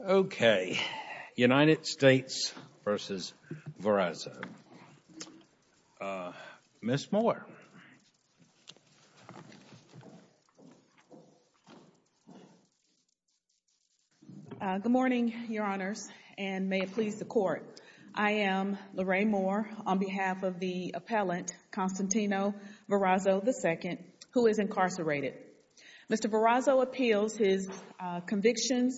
Okay, United States v. Varazo. Ms. Moore. Good morning, Your Honors, and may it please the Court. I am Lorraine Moore on behalf of the appellant, Constantine Varazo II, who is incarcerated. Mr. Varazo appeals his conviction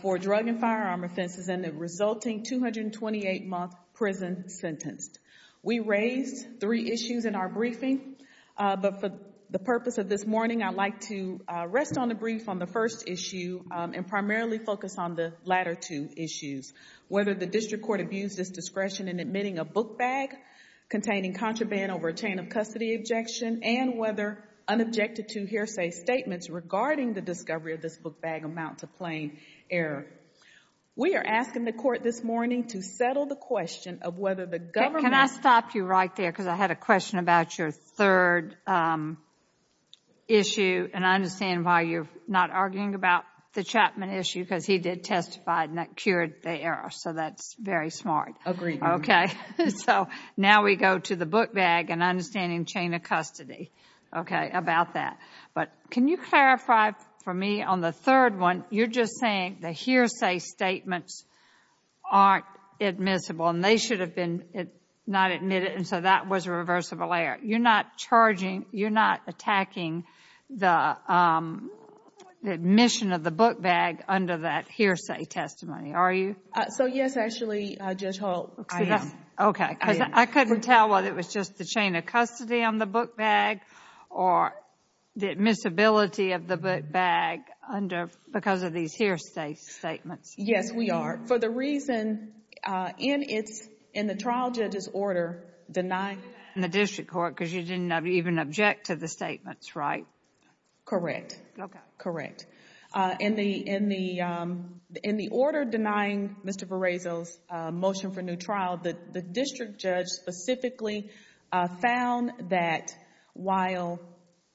for drug and firearm offenses and the resulting 228-month prison sentenced. We raised three issues in our briefing, but for the purpose of this morning, I would like to rest on the brief on the first issue and primarily focus on the latter two issues, whether the District Court abused its discretion in admitting a book bag containing contraband over a chain of custody objection and whether unobjected to hearsay statements regarding the discovery of this book bag amount to plain error. We are asking the Court this morning to settle the question of whether the government... Can I stop you right there, because I had a question about your third issue, and I understand why you're not arguing about the Chapman issue, because he did testify and that cured the error, so that's very smart. Agreed. Okay, so now we go to the book bag and understanding chain of custody, okay, about that. But can you clarify for me on the third one, you're just saying the hearsay statements aren't admissible and they should have been not admitted, and so that was a reversible error. You're not charging, you're not attacking the admission of the book bag under that hearsay testimony, are you? So yes, actually, Judge Holt. I am. Okay, because I couldn't tell whether it was just the chain of custody on the book bag or the admissibility of the book bag because of these hearsay statements. Yes, we are. For the reason, in the trial judge's order denying... In the district court, because you didn't even object to the statements, right? Correct, correct. In the order denying Mr. Ferrazio's motion for new trial, the district judge specifically found that while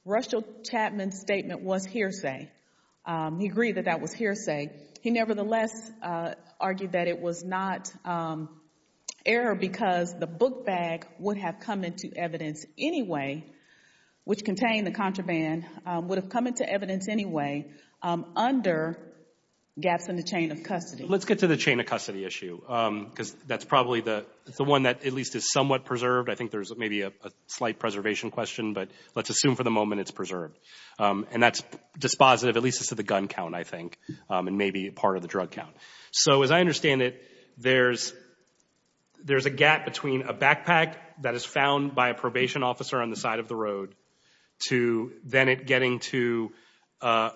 Russell Chapman's statement was hearsay, he agreed that that was hearsay, he nevertheless argued that it was not error because the book bag would have come into evidence anyway, which contained the contraband, would have come into evidence anyway under gaps in the chain of custody. Let's get to the chain of custody issue because that's probably the one that at least is somewhat preserved. I think there's maybe a slight preservation question, but let's assume for the moment it's preserved. And that's dispositive, at least as to the gun count, I think, and maybe part of the drug count. So as I understand it, there's a gap between a backpack that is found by a probation officer on the side of the road to then it getting to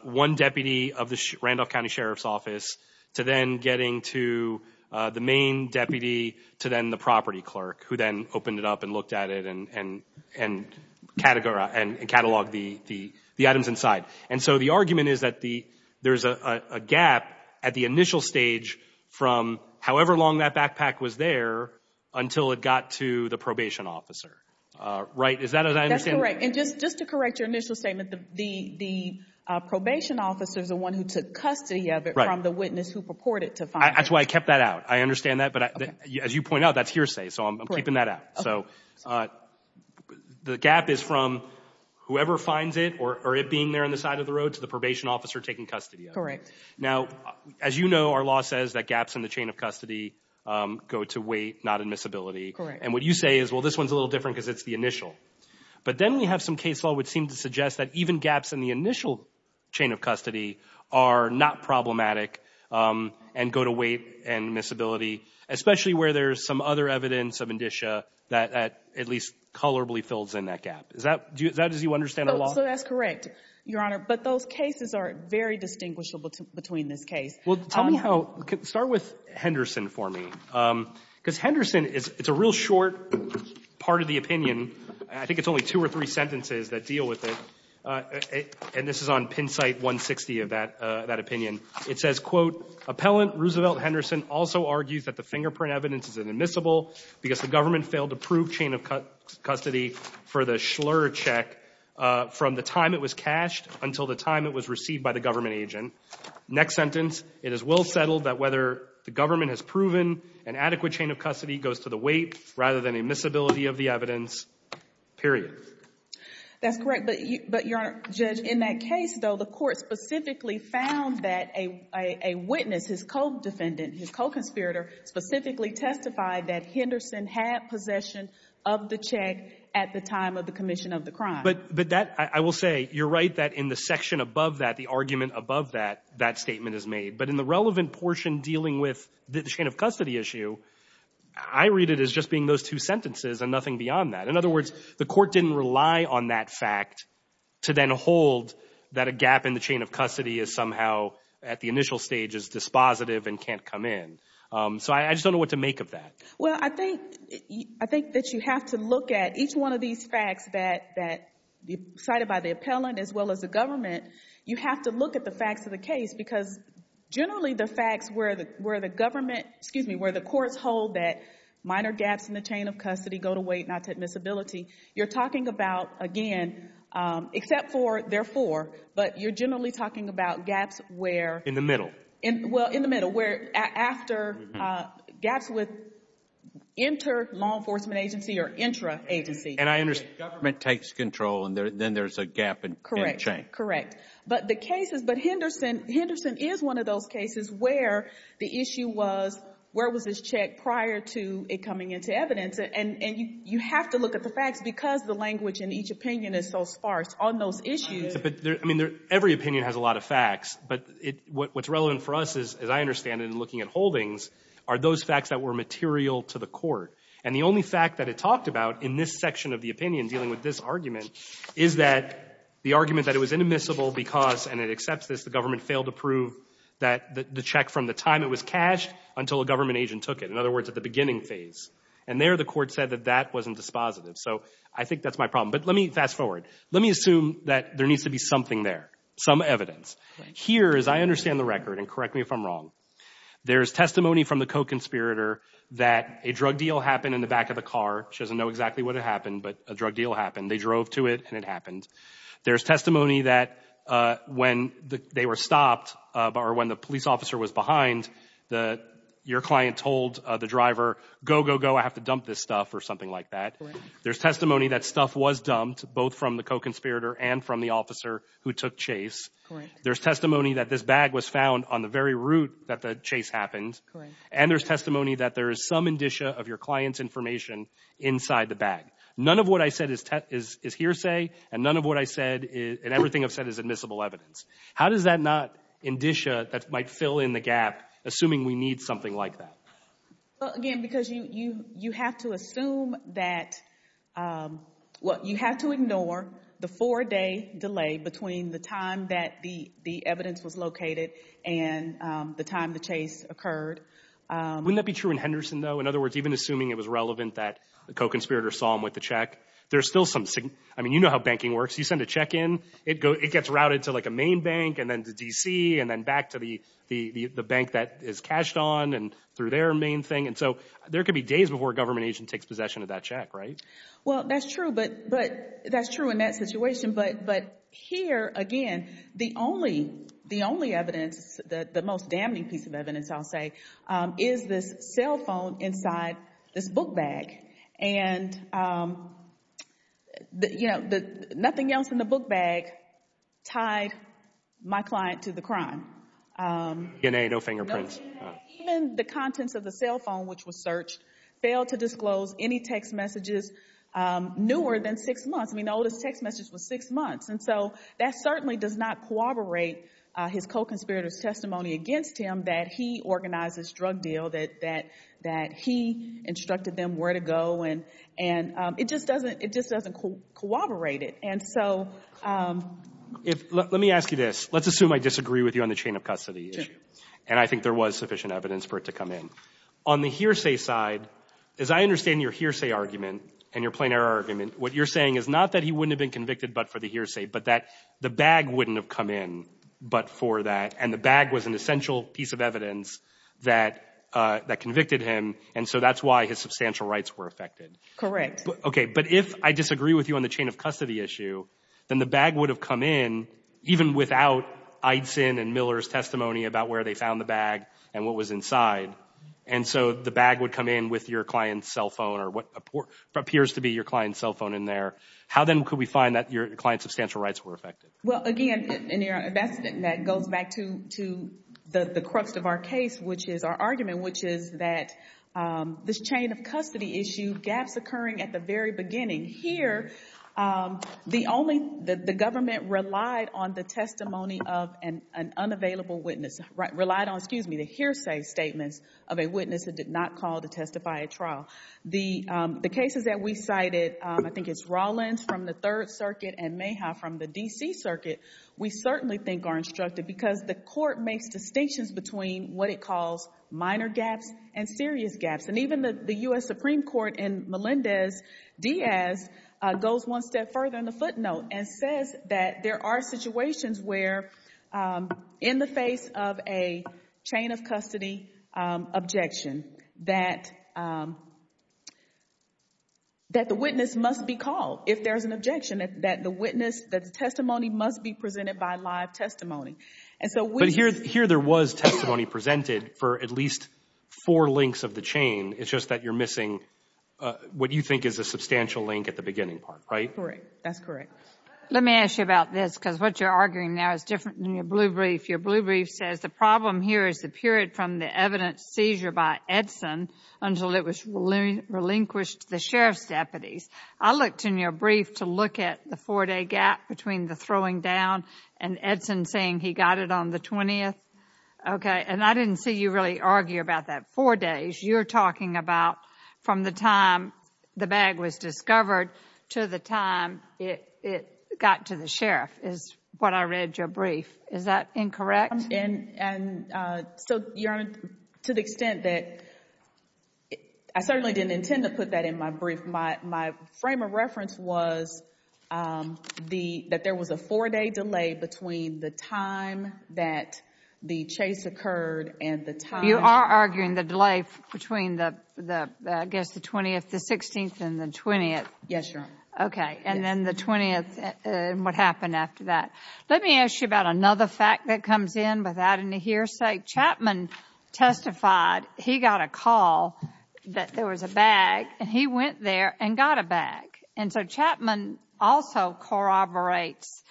one deputy of the Randolph County Sheriff's Office to then getting to the main deputy to then the property clerk who then opened it up and looked at it and cataloged the items inside. And so the argument is that there's a gap at the initial stage from however long that backpack was there until it got to the probation officer, right? Is that as I understand it? And just to correct your initial statement, the probation officer is the one who took custody of it from the witness who purported to find it. That's why I kept that out. I understand that. But as you point out, that's hearsay. So I'm keeping that out. So the gap is from whoever finds it or it being there on the side of the road to the probation officer taking custody of it. Now, as you know, our law says that gaps in the chain of custody go to weight, not admissibility. And what you say is, well, this one's a little different because it's the initial. But then you have some case law which seems to suggest that even gaps in the initial chain of custody are not problematic and go to weight and admissibility, especially where there's some other evidence of indicia that at least colorably fills in that gap. Is that as you understand our law? So that's correct, Your Honor. But those cases are very distinguishable between this case. Well, tell me how – start with Henderson for me. Because Henderson is – it's a real short part of the opinion. I think it's only two or three sentences that deal with it. And this is on pin site 160 of that opinion. It says, quote, Appellant Roosevelt Henderson also argues that the fingerprint evidence is admissible because the government failed to prove chain of custody for the Schlurr check from the time it was cached until the time it was received by the government agent. Next sentence, it is well settled that whether the government has proven an adequate chain of custody goes to the weight rather than admissibility of the evidence, period. That's correct. But, Your Honor, Judge, in that case, though, the court specifically found that a witness, his co-defendant, his co-conspirator, specifically testified that Henderson had possession of the check at the time of the commission of the crime. But that – I will say, you're right that in the section above that, the argument above that, that statement is made. But in the relevant portion dealing with the chain of custody issue, I read it as just being those two sentences and nothing beyond that. In other words, the court didn't rely on that fact to then hold that a gap in the chain of custody is somehow, at the initial stage, is dispositive and can't come in. So I just don't know what to make of that. Well, I think – I think that you have to look at each one of these facts that – cited by the appellant as well as the government, you have to look at the facts of the case because generally the facts where the government – excuse me, where the courts hold that minor gaps in the chain of custody go to weight, not to admissibility, you're talking about, again, except for therefore, but you're generally talking about gaps where In the middle. Well, in the middle, where after gaps with inter-law enforcement agency or intra-agency. And I understand government takes control and then there's a gap in the chain. Correct. But the cases – but Henderson – Henderson is one of those cases where the issue was, where was this check prior to it coming into evidence? And you – you have to look at the facts because the language in each opinion is so sparse on those issues. But there – I mean, every opinion has a lot of facts, but it – what's relevant for us is, as I understand it in looking at holdings, are those facts that were material to the court. And the only fact that it talked about in this section of the opinion dealing with this argument is that the argument that it was inadmissible because – and it accepts this – the government failed to prove that – the check from the time it was cashed until a government agent took it. In other words, at the beginning phase. And there, the court said that that wasn't dispositive. So I think that's my problem. But let me – fast forward. Let me assume that there needs to be something there, some evidence. Here, as I understand the record, and correct me if I'm wrong, there's testimony from the co-conspirator that a drug deal happened in the back of the car. She doesn't know exactly what happened, but a drug deal happened. They drove to it, and it happened. There's testimony that when they were stopped, or when the police officer was behind, your client told the driver, go, go, go, I have to dump this stuff, or something like that. There's testimony that stuff was dumped, both from the co-conspirator and from the officer who took Chase. There's testimony that this bag was found on the very route that the Chase happened. And there's testimony that there is some indicia of your client's information inside the bag. None of what I said is hearsay, and none of what I said – and everything I've said is admissible evidence. How does that not indicia that might fill in the gap, assuming we need something like that? Well, again, because you have to assume that – well, you have to ignore the four-day delay between the time that the evidence was located and the time the Chase occurred. Wouldn't that be true in Henderson, though? In other words, even assuming it was relevant that the co-conspirator saw him with the check, there's still some – I mean, you know how banking works. You send a check in. It gets routed to, like, a main bank, and then to D.C., and then back to the bank that is cashed on, and through their main thing. And so there could be days before a government agent takes possession of that check, right? Well, that's true, but – that's true in that situation. But here, again, the only evidence, the most damning piece of evidence, I'll say, is this cell phone inside this book bag. And, you know, nothing else in the book bag tied my client to the crime. DNA. No fingerprints. No DNA. Even the contents of the cell phone, which was searched, failed to disclose any text messages newer than six months. I mean, the oldest text message was six months. And so that certainly does not corroborate his co-conspirator's testimony against him that he organized this drug deal, that he instructed them where to go. And it just doesn't – it just doesn't corroborate it. And so – Let me ask you this. Let's assume I disagree with you on the chain of custody issue, and I think there was sufficient evidence for it to come in. On the hearsay side, as I understand your hearsay argument and your plain error argument, what you're saying is not that he wouldn't have been convicted but for the hearsay, but that the bag wouldn't have come in but for that, and the bag was an essential piece of evidence that convicted him, and so that's why his substantial rights were affected. Correct. Okay. But if I disagree with you on the chain of custody issue, then the bag would have come in even without Eidson and Miller's testimony about where they found the bag and what was inside. And so the bag would come in with your client's cell phone or what appears to be your client's cell phone in there. How then could we find that your client's substantial rights were affected? Well, again, that goes back to the crux of our case, which is our argument, which is that this chain of custody issue, gaps occurring at the very beginning. Here, the government relied on the testimony of an unavailable witness, relied on, excuse me, the hearsay statements of a witness that did not call to testify at trial. The cases that we cited, I think it's Rollins from the Third Circuit and Mayhaw from the D.C. Circuit, we certainly think are instructed because the court makes distinctions between what it calls minor gaps and serious gaps. And even the U.S. Supreme Court in Melendez-Diaz goes one step further in the footnote and says that there are situations where, in the face of a chain of custody objection, that the witness must be called if there's an objection, that the witness, that the testimony must be presented by live testimony. And so we— But here there was testimony presented for at least four links of the chain. It's just that you're missing what you think is a substantial link at the beginning part, right? Correct. That's correct. Let me ask you about this because what you're arguing now is different than your blue brief. Your blue brief says the problem here is the period from the evidence seizure by Edson until it was relinquished to the sheriff's deputies. I looked in your brief to look at the four-day gap between the throwing down and Edson saying he got it on the 20th. Okay. And I didn't see you really argue about that four days. You're talking about from the time the bag was discovered to the time it got to the sheriff is what I read your brief. Is that incorrect? And so, Your Honor, to the extent that I certainly didn't intend to put that in my brief, my frame of reference was that there was a four-day delay between the time that the chase occurred and the time— You are arguing the delay between the, I guess, the 20th, the 16th, and the 20th. Yes, Your Honor. Okay. And then the 20th and what happened after that. Let me ask you about another fact that comes in without any hearsay. Chapman testified he got a call that there was a bag and he went there and got a bag. And so, Chapman also corroborates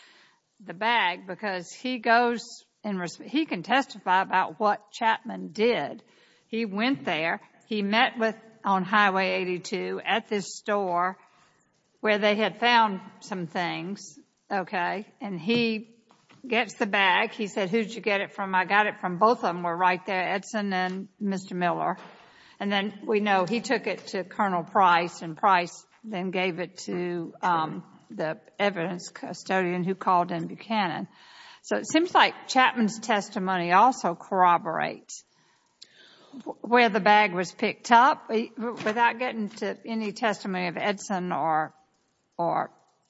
the bag because he goes and he can testify about what Chapman did. He went there. He met with, on Highway 82, at this store where they had found some things, okay? And he gets the bag. He said, who did you get it from? I got it from both of them were right there, Edson and Mr. Miller. And then we know he took it to Colonel Price and Price then gave it to the evidence custodian who called in Buchanan. So it seems like Chapman's testimony also corroborates where the bag was picked up. Without getting to any testimony of Edson or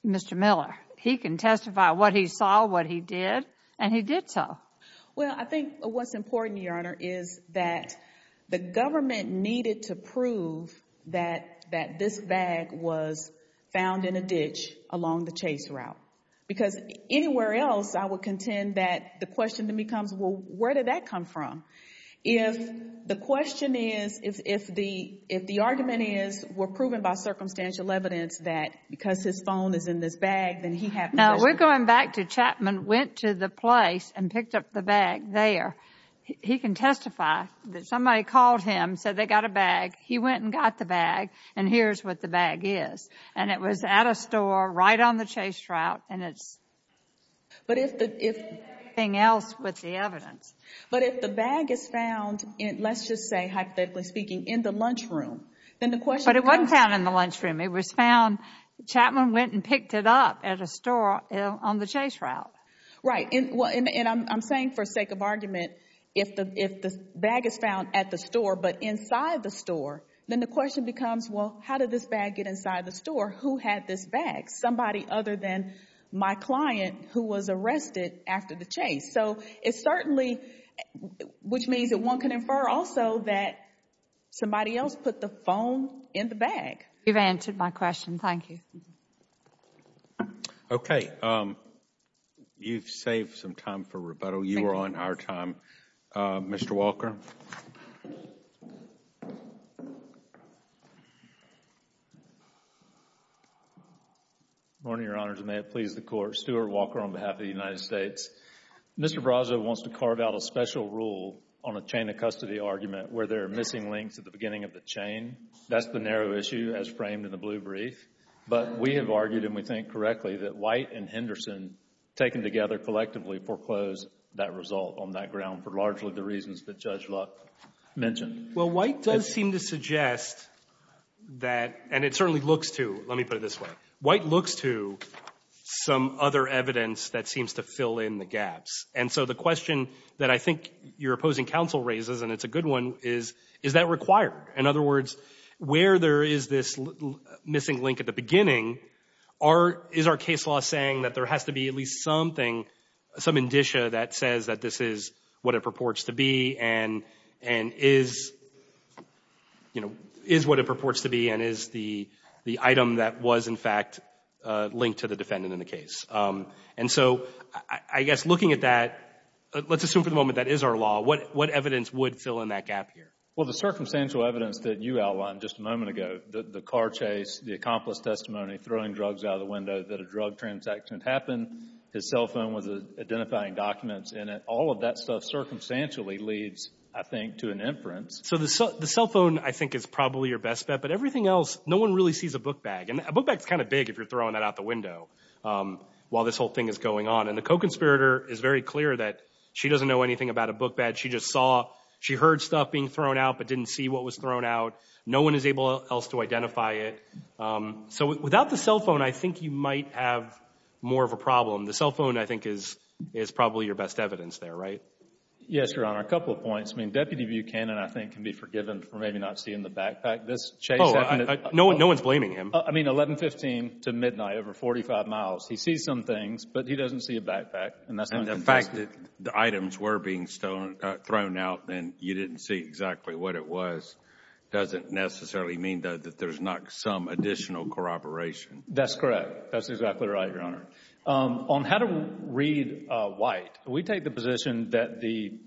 Mr. Miller, he can testify what he saw, what he did, and he did so. Well, I think what's important, Your Honor, is that the government needed to prove that this bag was found in a ditch along the chase route. Because anywhere else, I would contend that the question then becomes, well, where did that come from? If the question is, if the argument is, we're proven by circumstantial evidence that because his phone is in this bag, then he had the question. Now, we're going back to Chapman went to the place and picked up the bag there. He can testify that somebody called him, said they got a bag. He went and got the bag, and here's what the bag is. And it was at a store right on the chase route, and it's... But if the... Everything else with the evidence. But if the bag is found, let's just say hypothetically speaking, in the lunchroom, then the question... But it wasn't found in the lunchroom. It was found, Chapman went and picked it up at a store on the chase route. Right. And I'm saying for sake of argument, if the bag is found at the store, but inside the store, then the question becomes, well, how did this bag get inside the store? Who had this bag? Somebody other than my client who was arrested after the chase. So it's certainly, which means that one can infer also that somebody else put the phone in the bag. You've answered my question. Thank you. Okay. You've saved some time for rebuttal. You are on our time. Mr. Walker. Good morning, Your Honors. May it please the Court. Stuart Walker on behalf of the United States. Mr. Brazo wants to carve out a special rule on a chain of custody argument where there are missing links at the beginning of the chain. That's the narrow issue as framed in the blue brief. But we have argued, and we think correctly, that White and Henderson taken together collectively foreclosed that result on that ground for largely the reasons that Judge Luck mentioned. Well, White does seem to suggest that, and it certainly looks to, let me put it this way, White looks to some other evidence that seems to fill in the gaps. And so the question that I think your opposing counsel raises, and it's a good one, is, is that required? In other words, where there is this missing link at the beginning, is our case law saying that there has to be at least something, some indicia that says that this is what it purports to be and is, you know, is what it purports to be and is the item that was in fact linked to the defendant in the case? And so I guess looking at that, let's assume for the moment that is our law, what evidence would fill in that gap here? Well, the circumstantial evidence that you outlined just a moment ago, the car chase, the accomplice testimony, throwing drugs out of the window, that a drug transaction had happened, his cell phone was identifying documents in it, all of that stuff circumstantially leads, I think, to an inference. So the cell phone, I think, is probably your best bet, but everything else, no one really sees a book bag. And a book bag is kind of big if you're throwing that out the window while this whole thing is going on. And the co-conspirator is very clear that she doesn't know anything about a book bag. She just saw, she heard stuff being thrown out, but didn't see what was thrown out. No one is able else to identify it. So without the cell phone, I think you might have more of a problem. The cell phone, I think, is probably your best evidence there, right? Yes, Your Honor. A couple of points. I mean, Deputy Buchanan, I think, can be forgiven for maybe not seeing the backpack. This chase happened at 1115 to midnight, over 45 miles. He sees some things, but he doesn't see a backpack. And the fact that the items were being thrown out and you didn't see exactly what it was doesn't necessarily mean that there's not some additional corroboration. That's correct. That's exactly right, Your Honor. On how to read white, we take the position that the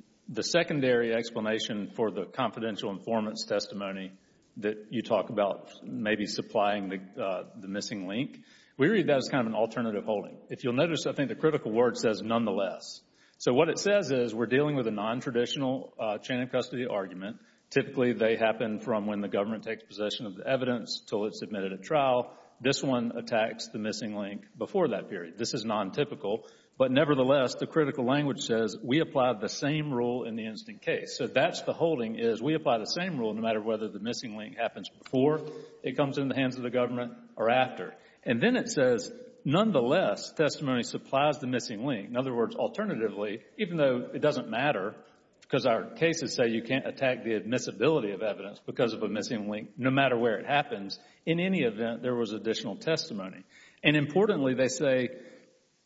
secondary explanation for the confidential informant's testimony that you talk about maybe supplying the missing link, we read that as kind of an alternative holding. If you'll notice, I think the critical word says nonetheless. So what it says is we're dealing with a nontraditional chain of custody argument. Typically, they happen from when the government takes possession of the evidence until it's submitted at trial. This one attacks the missing link before that period. This is nontypical. But nevertheless, the critical language says we apply the same rule in the instant case. So that's the holding is we apply the same rule no matter whether the missing link happens before it comes into the hands of the government or after. And then it says nonetheless, testimony supplies the missing link. In other words, alternatively, even though it doesn't matter, because our cases say you can't attack the admissibility of evidence because of a missing link no matter where it happens, in any event, there was additional testimony. And importantly, they say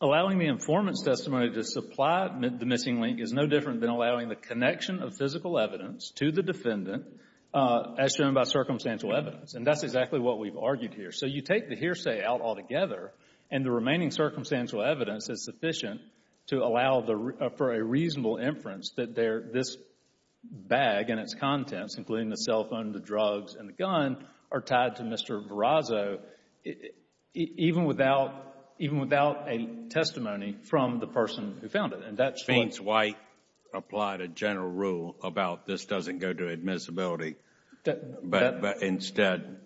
allowing the informant's testimony to supply the missing link is no different than allowing the connection of physical evidence to the defendant as shown by circumstantial evidence. And that's exactly what we've argued here. So you take the hearsay out altogether and the remaining circumstantial evidence is sufficient to allow for a reasonable inference that this bag and its contents, including the cell phone, the drugs, and the gun, are tied to Mr. Verrazzo even without a testimony from the person who found it. And that's fine. Vince White applied a general rule about this doesn't go to admissibility, but instead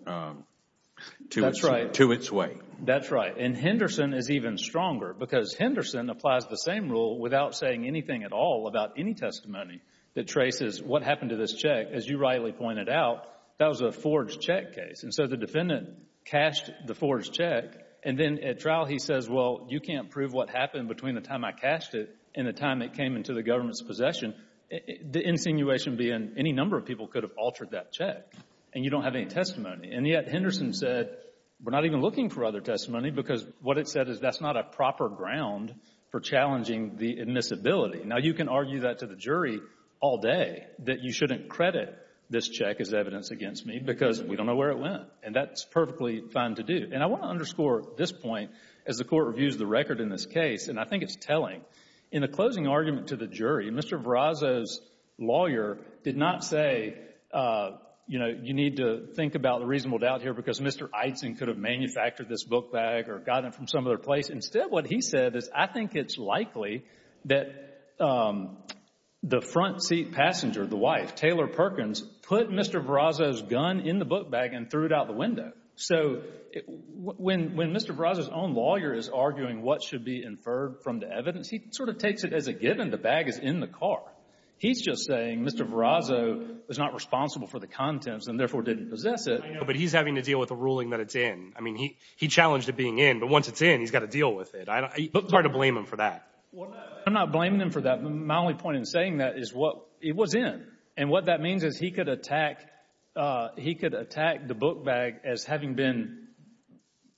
to its weight. That's right. And Henderson is even stronger because Henderson applies the same rule without saying anything at all about any testimony that traces what happened to this check. As you rightly pointed out, that was a forged check case. And so the defendant cashed the forged check and then at trial he says, well, you can't prove what happened between the time I cashed it and the time it came into the government's The insinuation being any number of people could have altered that check and you don't have any testimony. And yet Henderson said, we're not even looking for other testimony because what it said is that's not a proper ground for challenging the admissibility. Now you can argue that to the jury all day, that you shouldn't credit this check as evidence against me because we don't know where it went. And that's perfectly fine to do. And I want to underscore this point as the Court reviews the record in this case, and I think it's telling. In the closing argument to the jury, Mr. Verrazzo's lawyer did not say, you know, you need to think about the reasonable doubt here because Mr. Eitzen could have manufactured this book bag or gotten it from some other place. Instead, what he said is, I think it's likely that the front seat passenger, the wife, Taylor Perkins, put Mr. Verrazzo's gun in the book bag and threw it out the window. So when Mr. Verrazzo's own lawyer is arguing what should be inferred from the evidence, he sort of takes it as a given the bag is in the car. He's just saying Mr. Verrazzo was not responsible for the contents and therefore didn't possess it. But he's having to deal with the ruling that it's in. I mean, he challenged it being in, but once it's in, he's got to deal with it. I don't want to blame him for that. I'm not blaming him for that. My only point in saying that is what it was in. And what that means is he could attack, he could attack the book bag as having been,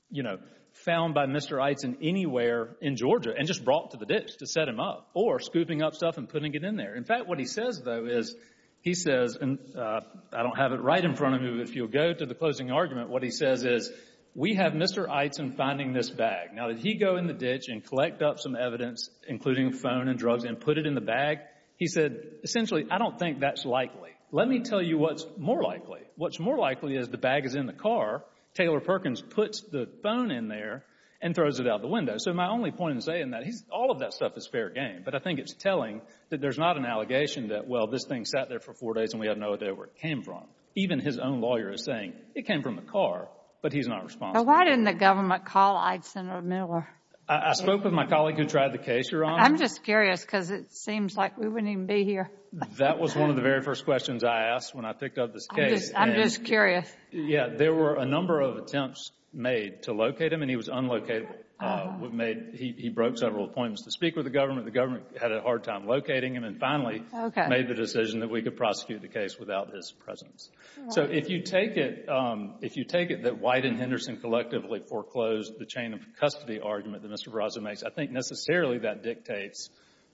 you know, found by Mr. Eitzen anywhere in Georgia and just brought to the ditch to set him up or scooping up stuff and putting it in there. In fact, what he says, though, is he says, and I don't have it right in front of me. But if you'll go to the closing argument, what he says is, we have Mr. Eitzen finding this bag. Now, did he go in the ditch and collect up some evidence, including phone and drugs, and put it in the bag? He said, essentially, I don't think that's likely. Let me tell you what's more likely. What's more likely is the bag is in the car, Taylor Perkins puts the phone in there and throws it out the window. So my only point in saying that, all of that stuff is fair game. But I think it's telling that there's not an allegation that, well, this thing sat there for four days and we have no idea where it came from. Even his own lawyer is saying, it came from the car. But he's not responsible. So why didn't the government call Eitzen or Miller? I spoke with my colleague who tried the case, Your Honor. I'm just curious because it seems like we wouldn't even be here. That was one of the very first questions I asked when I picked up this case. I'm just curious. Yeah. There were a number of attempts made to locate him and he was unlocatable. He broke several appointments to speak with the government. The government had a hard time locating him and finally made the decision that we could prosecute the case without his presence. So if you take it, if you take it that White and Henderson collectively foreclosed the chain of custody argument that Mr. Barraza makes, I think necessarily that dictates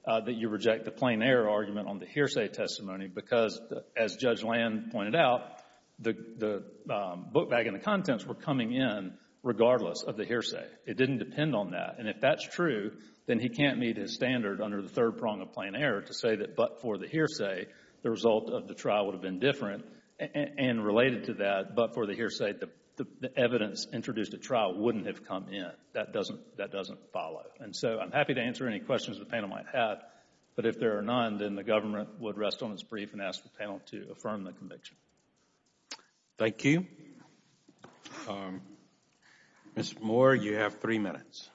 that you reject the plain error argument on the hearsay testimony because, as Judge Land pointed out, the book bag and the contents were coming in regardless of the hearsay. It didn't depend on that. And if that's true, then he can't meet his standard under the third prong of plain error to say that but for the hearsay, the result of the trial would have been different. And related to that, but for the hearsay, the evidence introduced at trial wouldn't have come in. That doesn't follow. And so I'm happy to answer any questions the panel might have. But if there are none, then the government would rest on its brief and ask the panel to affirm the conviction. Thank you. Mr. Moore, you have three minutes.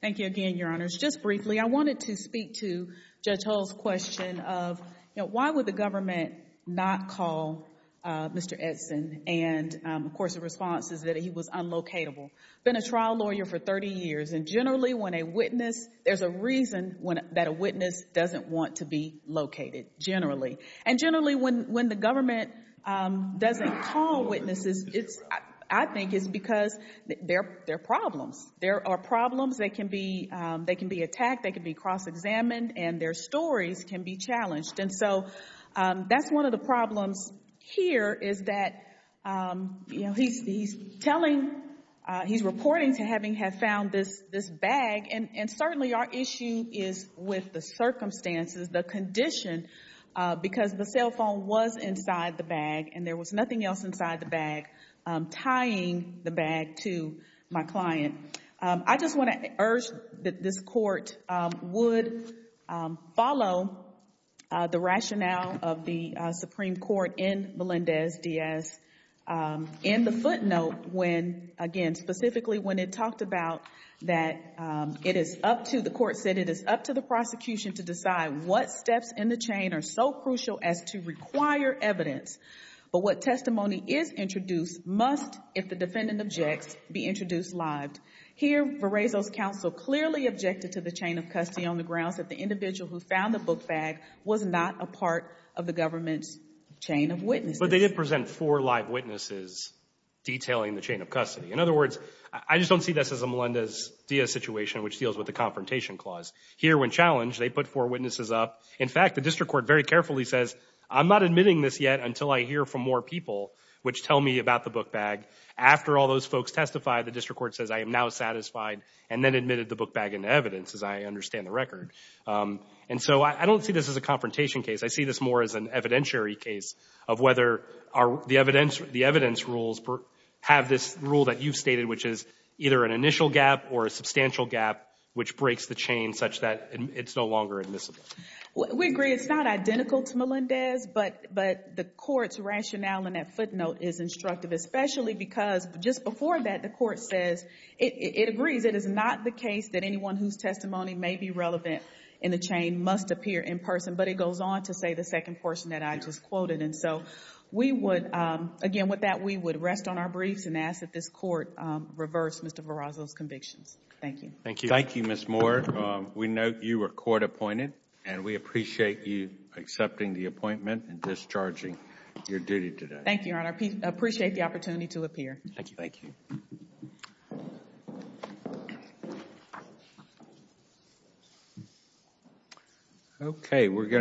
Thank you again, Your Honors. Just briefly, I wanted to speak to Judge Hull's question of, you know, why would the government not call Mr. Edson and, of course, the response is that he was unlocatable, been a trial lawyer for 30 years. And generally, when a witness, there's a reason that a witness doesn't want to be located generally. And generally, when the government doesn't call witnesses, I think it's because there are problems. There are problems that can be attacked, that can be cross-examined, and their stories can be challenged. And so that's one of the problems here is that, you know, he's telling, he's reporting to having have found this bag. And certainly, our issue is with the circumstances, the condition, because the cell phone was inside the bag and there was nothing else inside the bag tying the bag to my client. I just want to urge that this Court would follow the rationale of the Supreme Court in Melendez-Diaz in the footnote when, again, specifically when it talked about that it is up to, the Court said, it is up to the prosecution to decide what steps in the chain are so crucial as to require evidence. But what testimony is introduced must, if the defendant objects, be introduced live. Here, Verezo's counsel clearly objected to the chain of custody on the grounds that the individual who found the book bag was not a part of the government's chain of witnesses. But they did present four live witnesses detailing the chain of custody. In other words, I just don't see this as a Melendez-Diaz situation, which deals with the confrontation clause. Here when challenged, they put four witnesses up. In fact, the District Court very carefully says, I'm not admitting this yet until I hear from more people which tell me about the book bag. After all those folks testify, the District Court says, I am now satisfied, and then admitted the book bag into evidence, as I understand the record. And so I don't see this as a confrontation case. I see this more as an evidentiary case of whether the evidence rules have this rule that you've stated, which is either an initial gap or a substantial gap, which breaks the chain such that it's no longer admissible. We agree. It's not identical to Melendez. But the Court's rationale in that footnote is instructive, especially because just before that, the Court says, it agrees, it is not the case that anyone whose testimony may be relevant in the chain must appear in person. But it goes on to say the second portion that I just quoted. And so we would, again, with that, we would rest on our briefs and ask that this Court reverse Mr. Verrazzo's convictions. Thank you. Thank you. Thank you, Ms. Moore. We note you were court appointed, and we appreciate you accepting the appointment and discharging your duty today. Thank you, Your Honor. I appreciate the opportunity to appear. Thank you. Thank you. All right.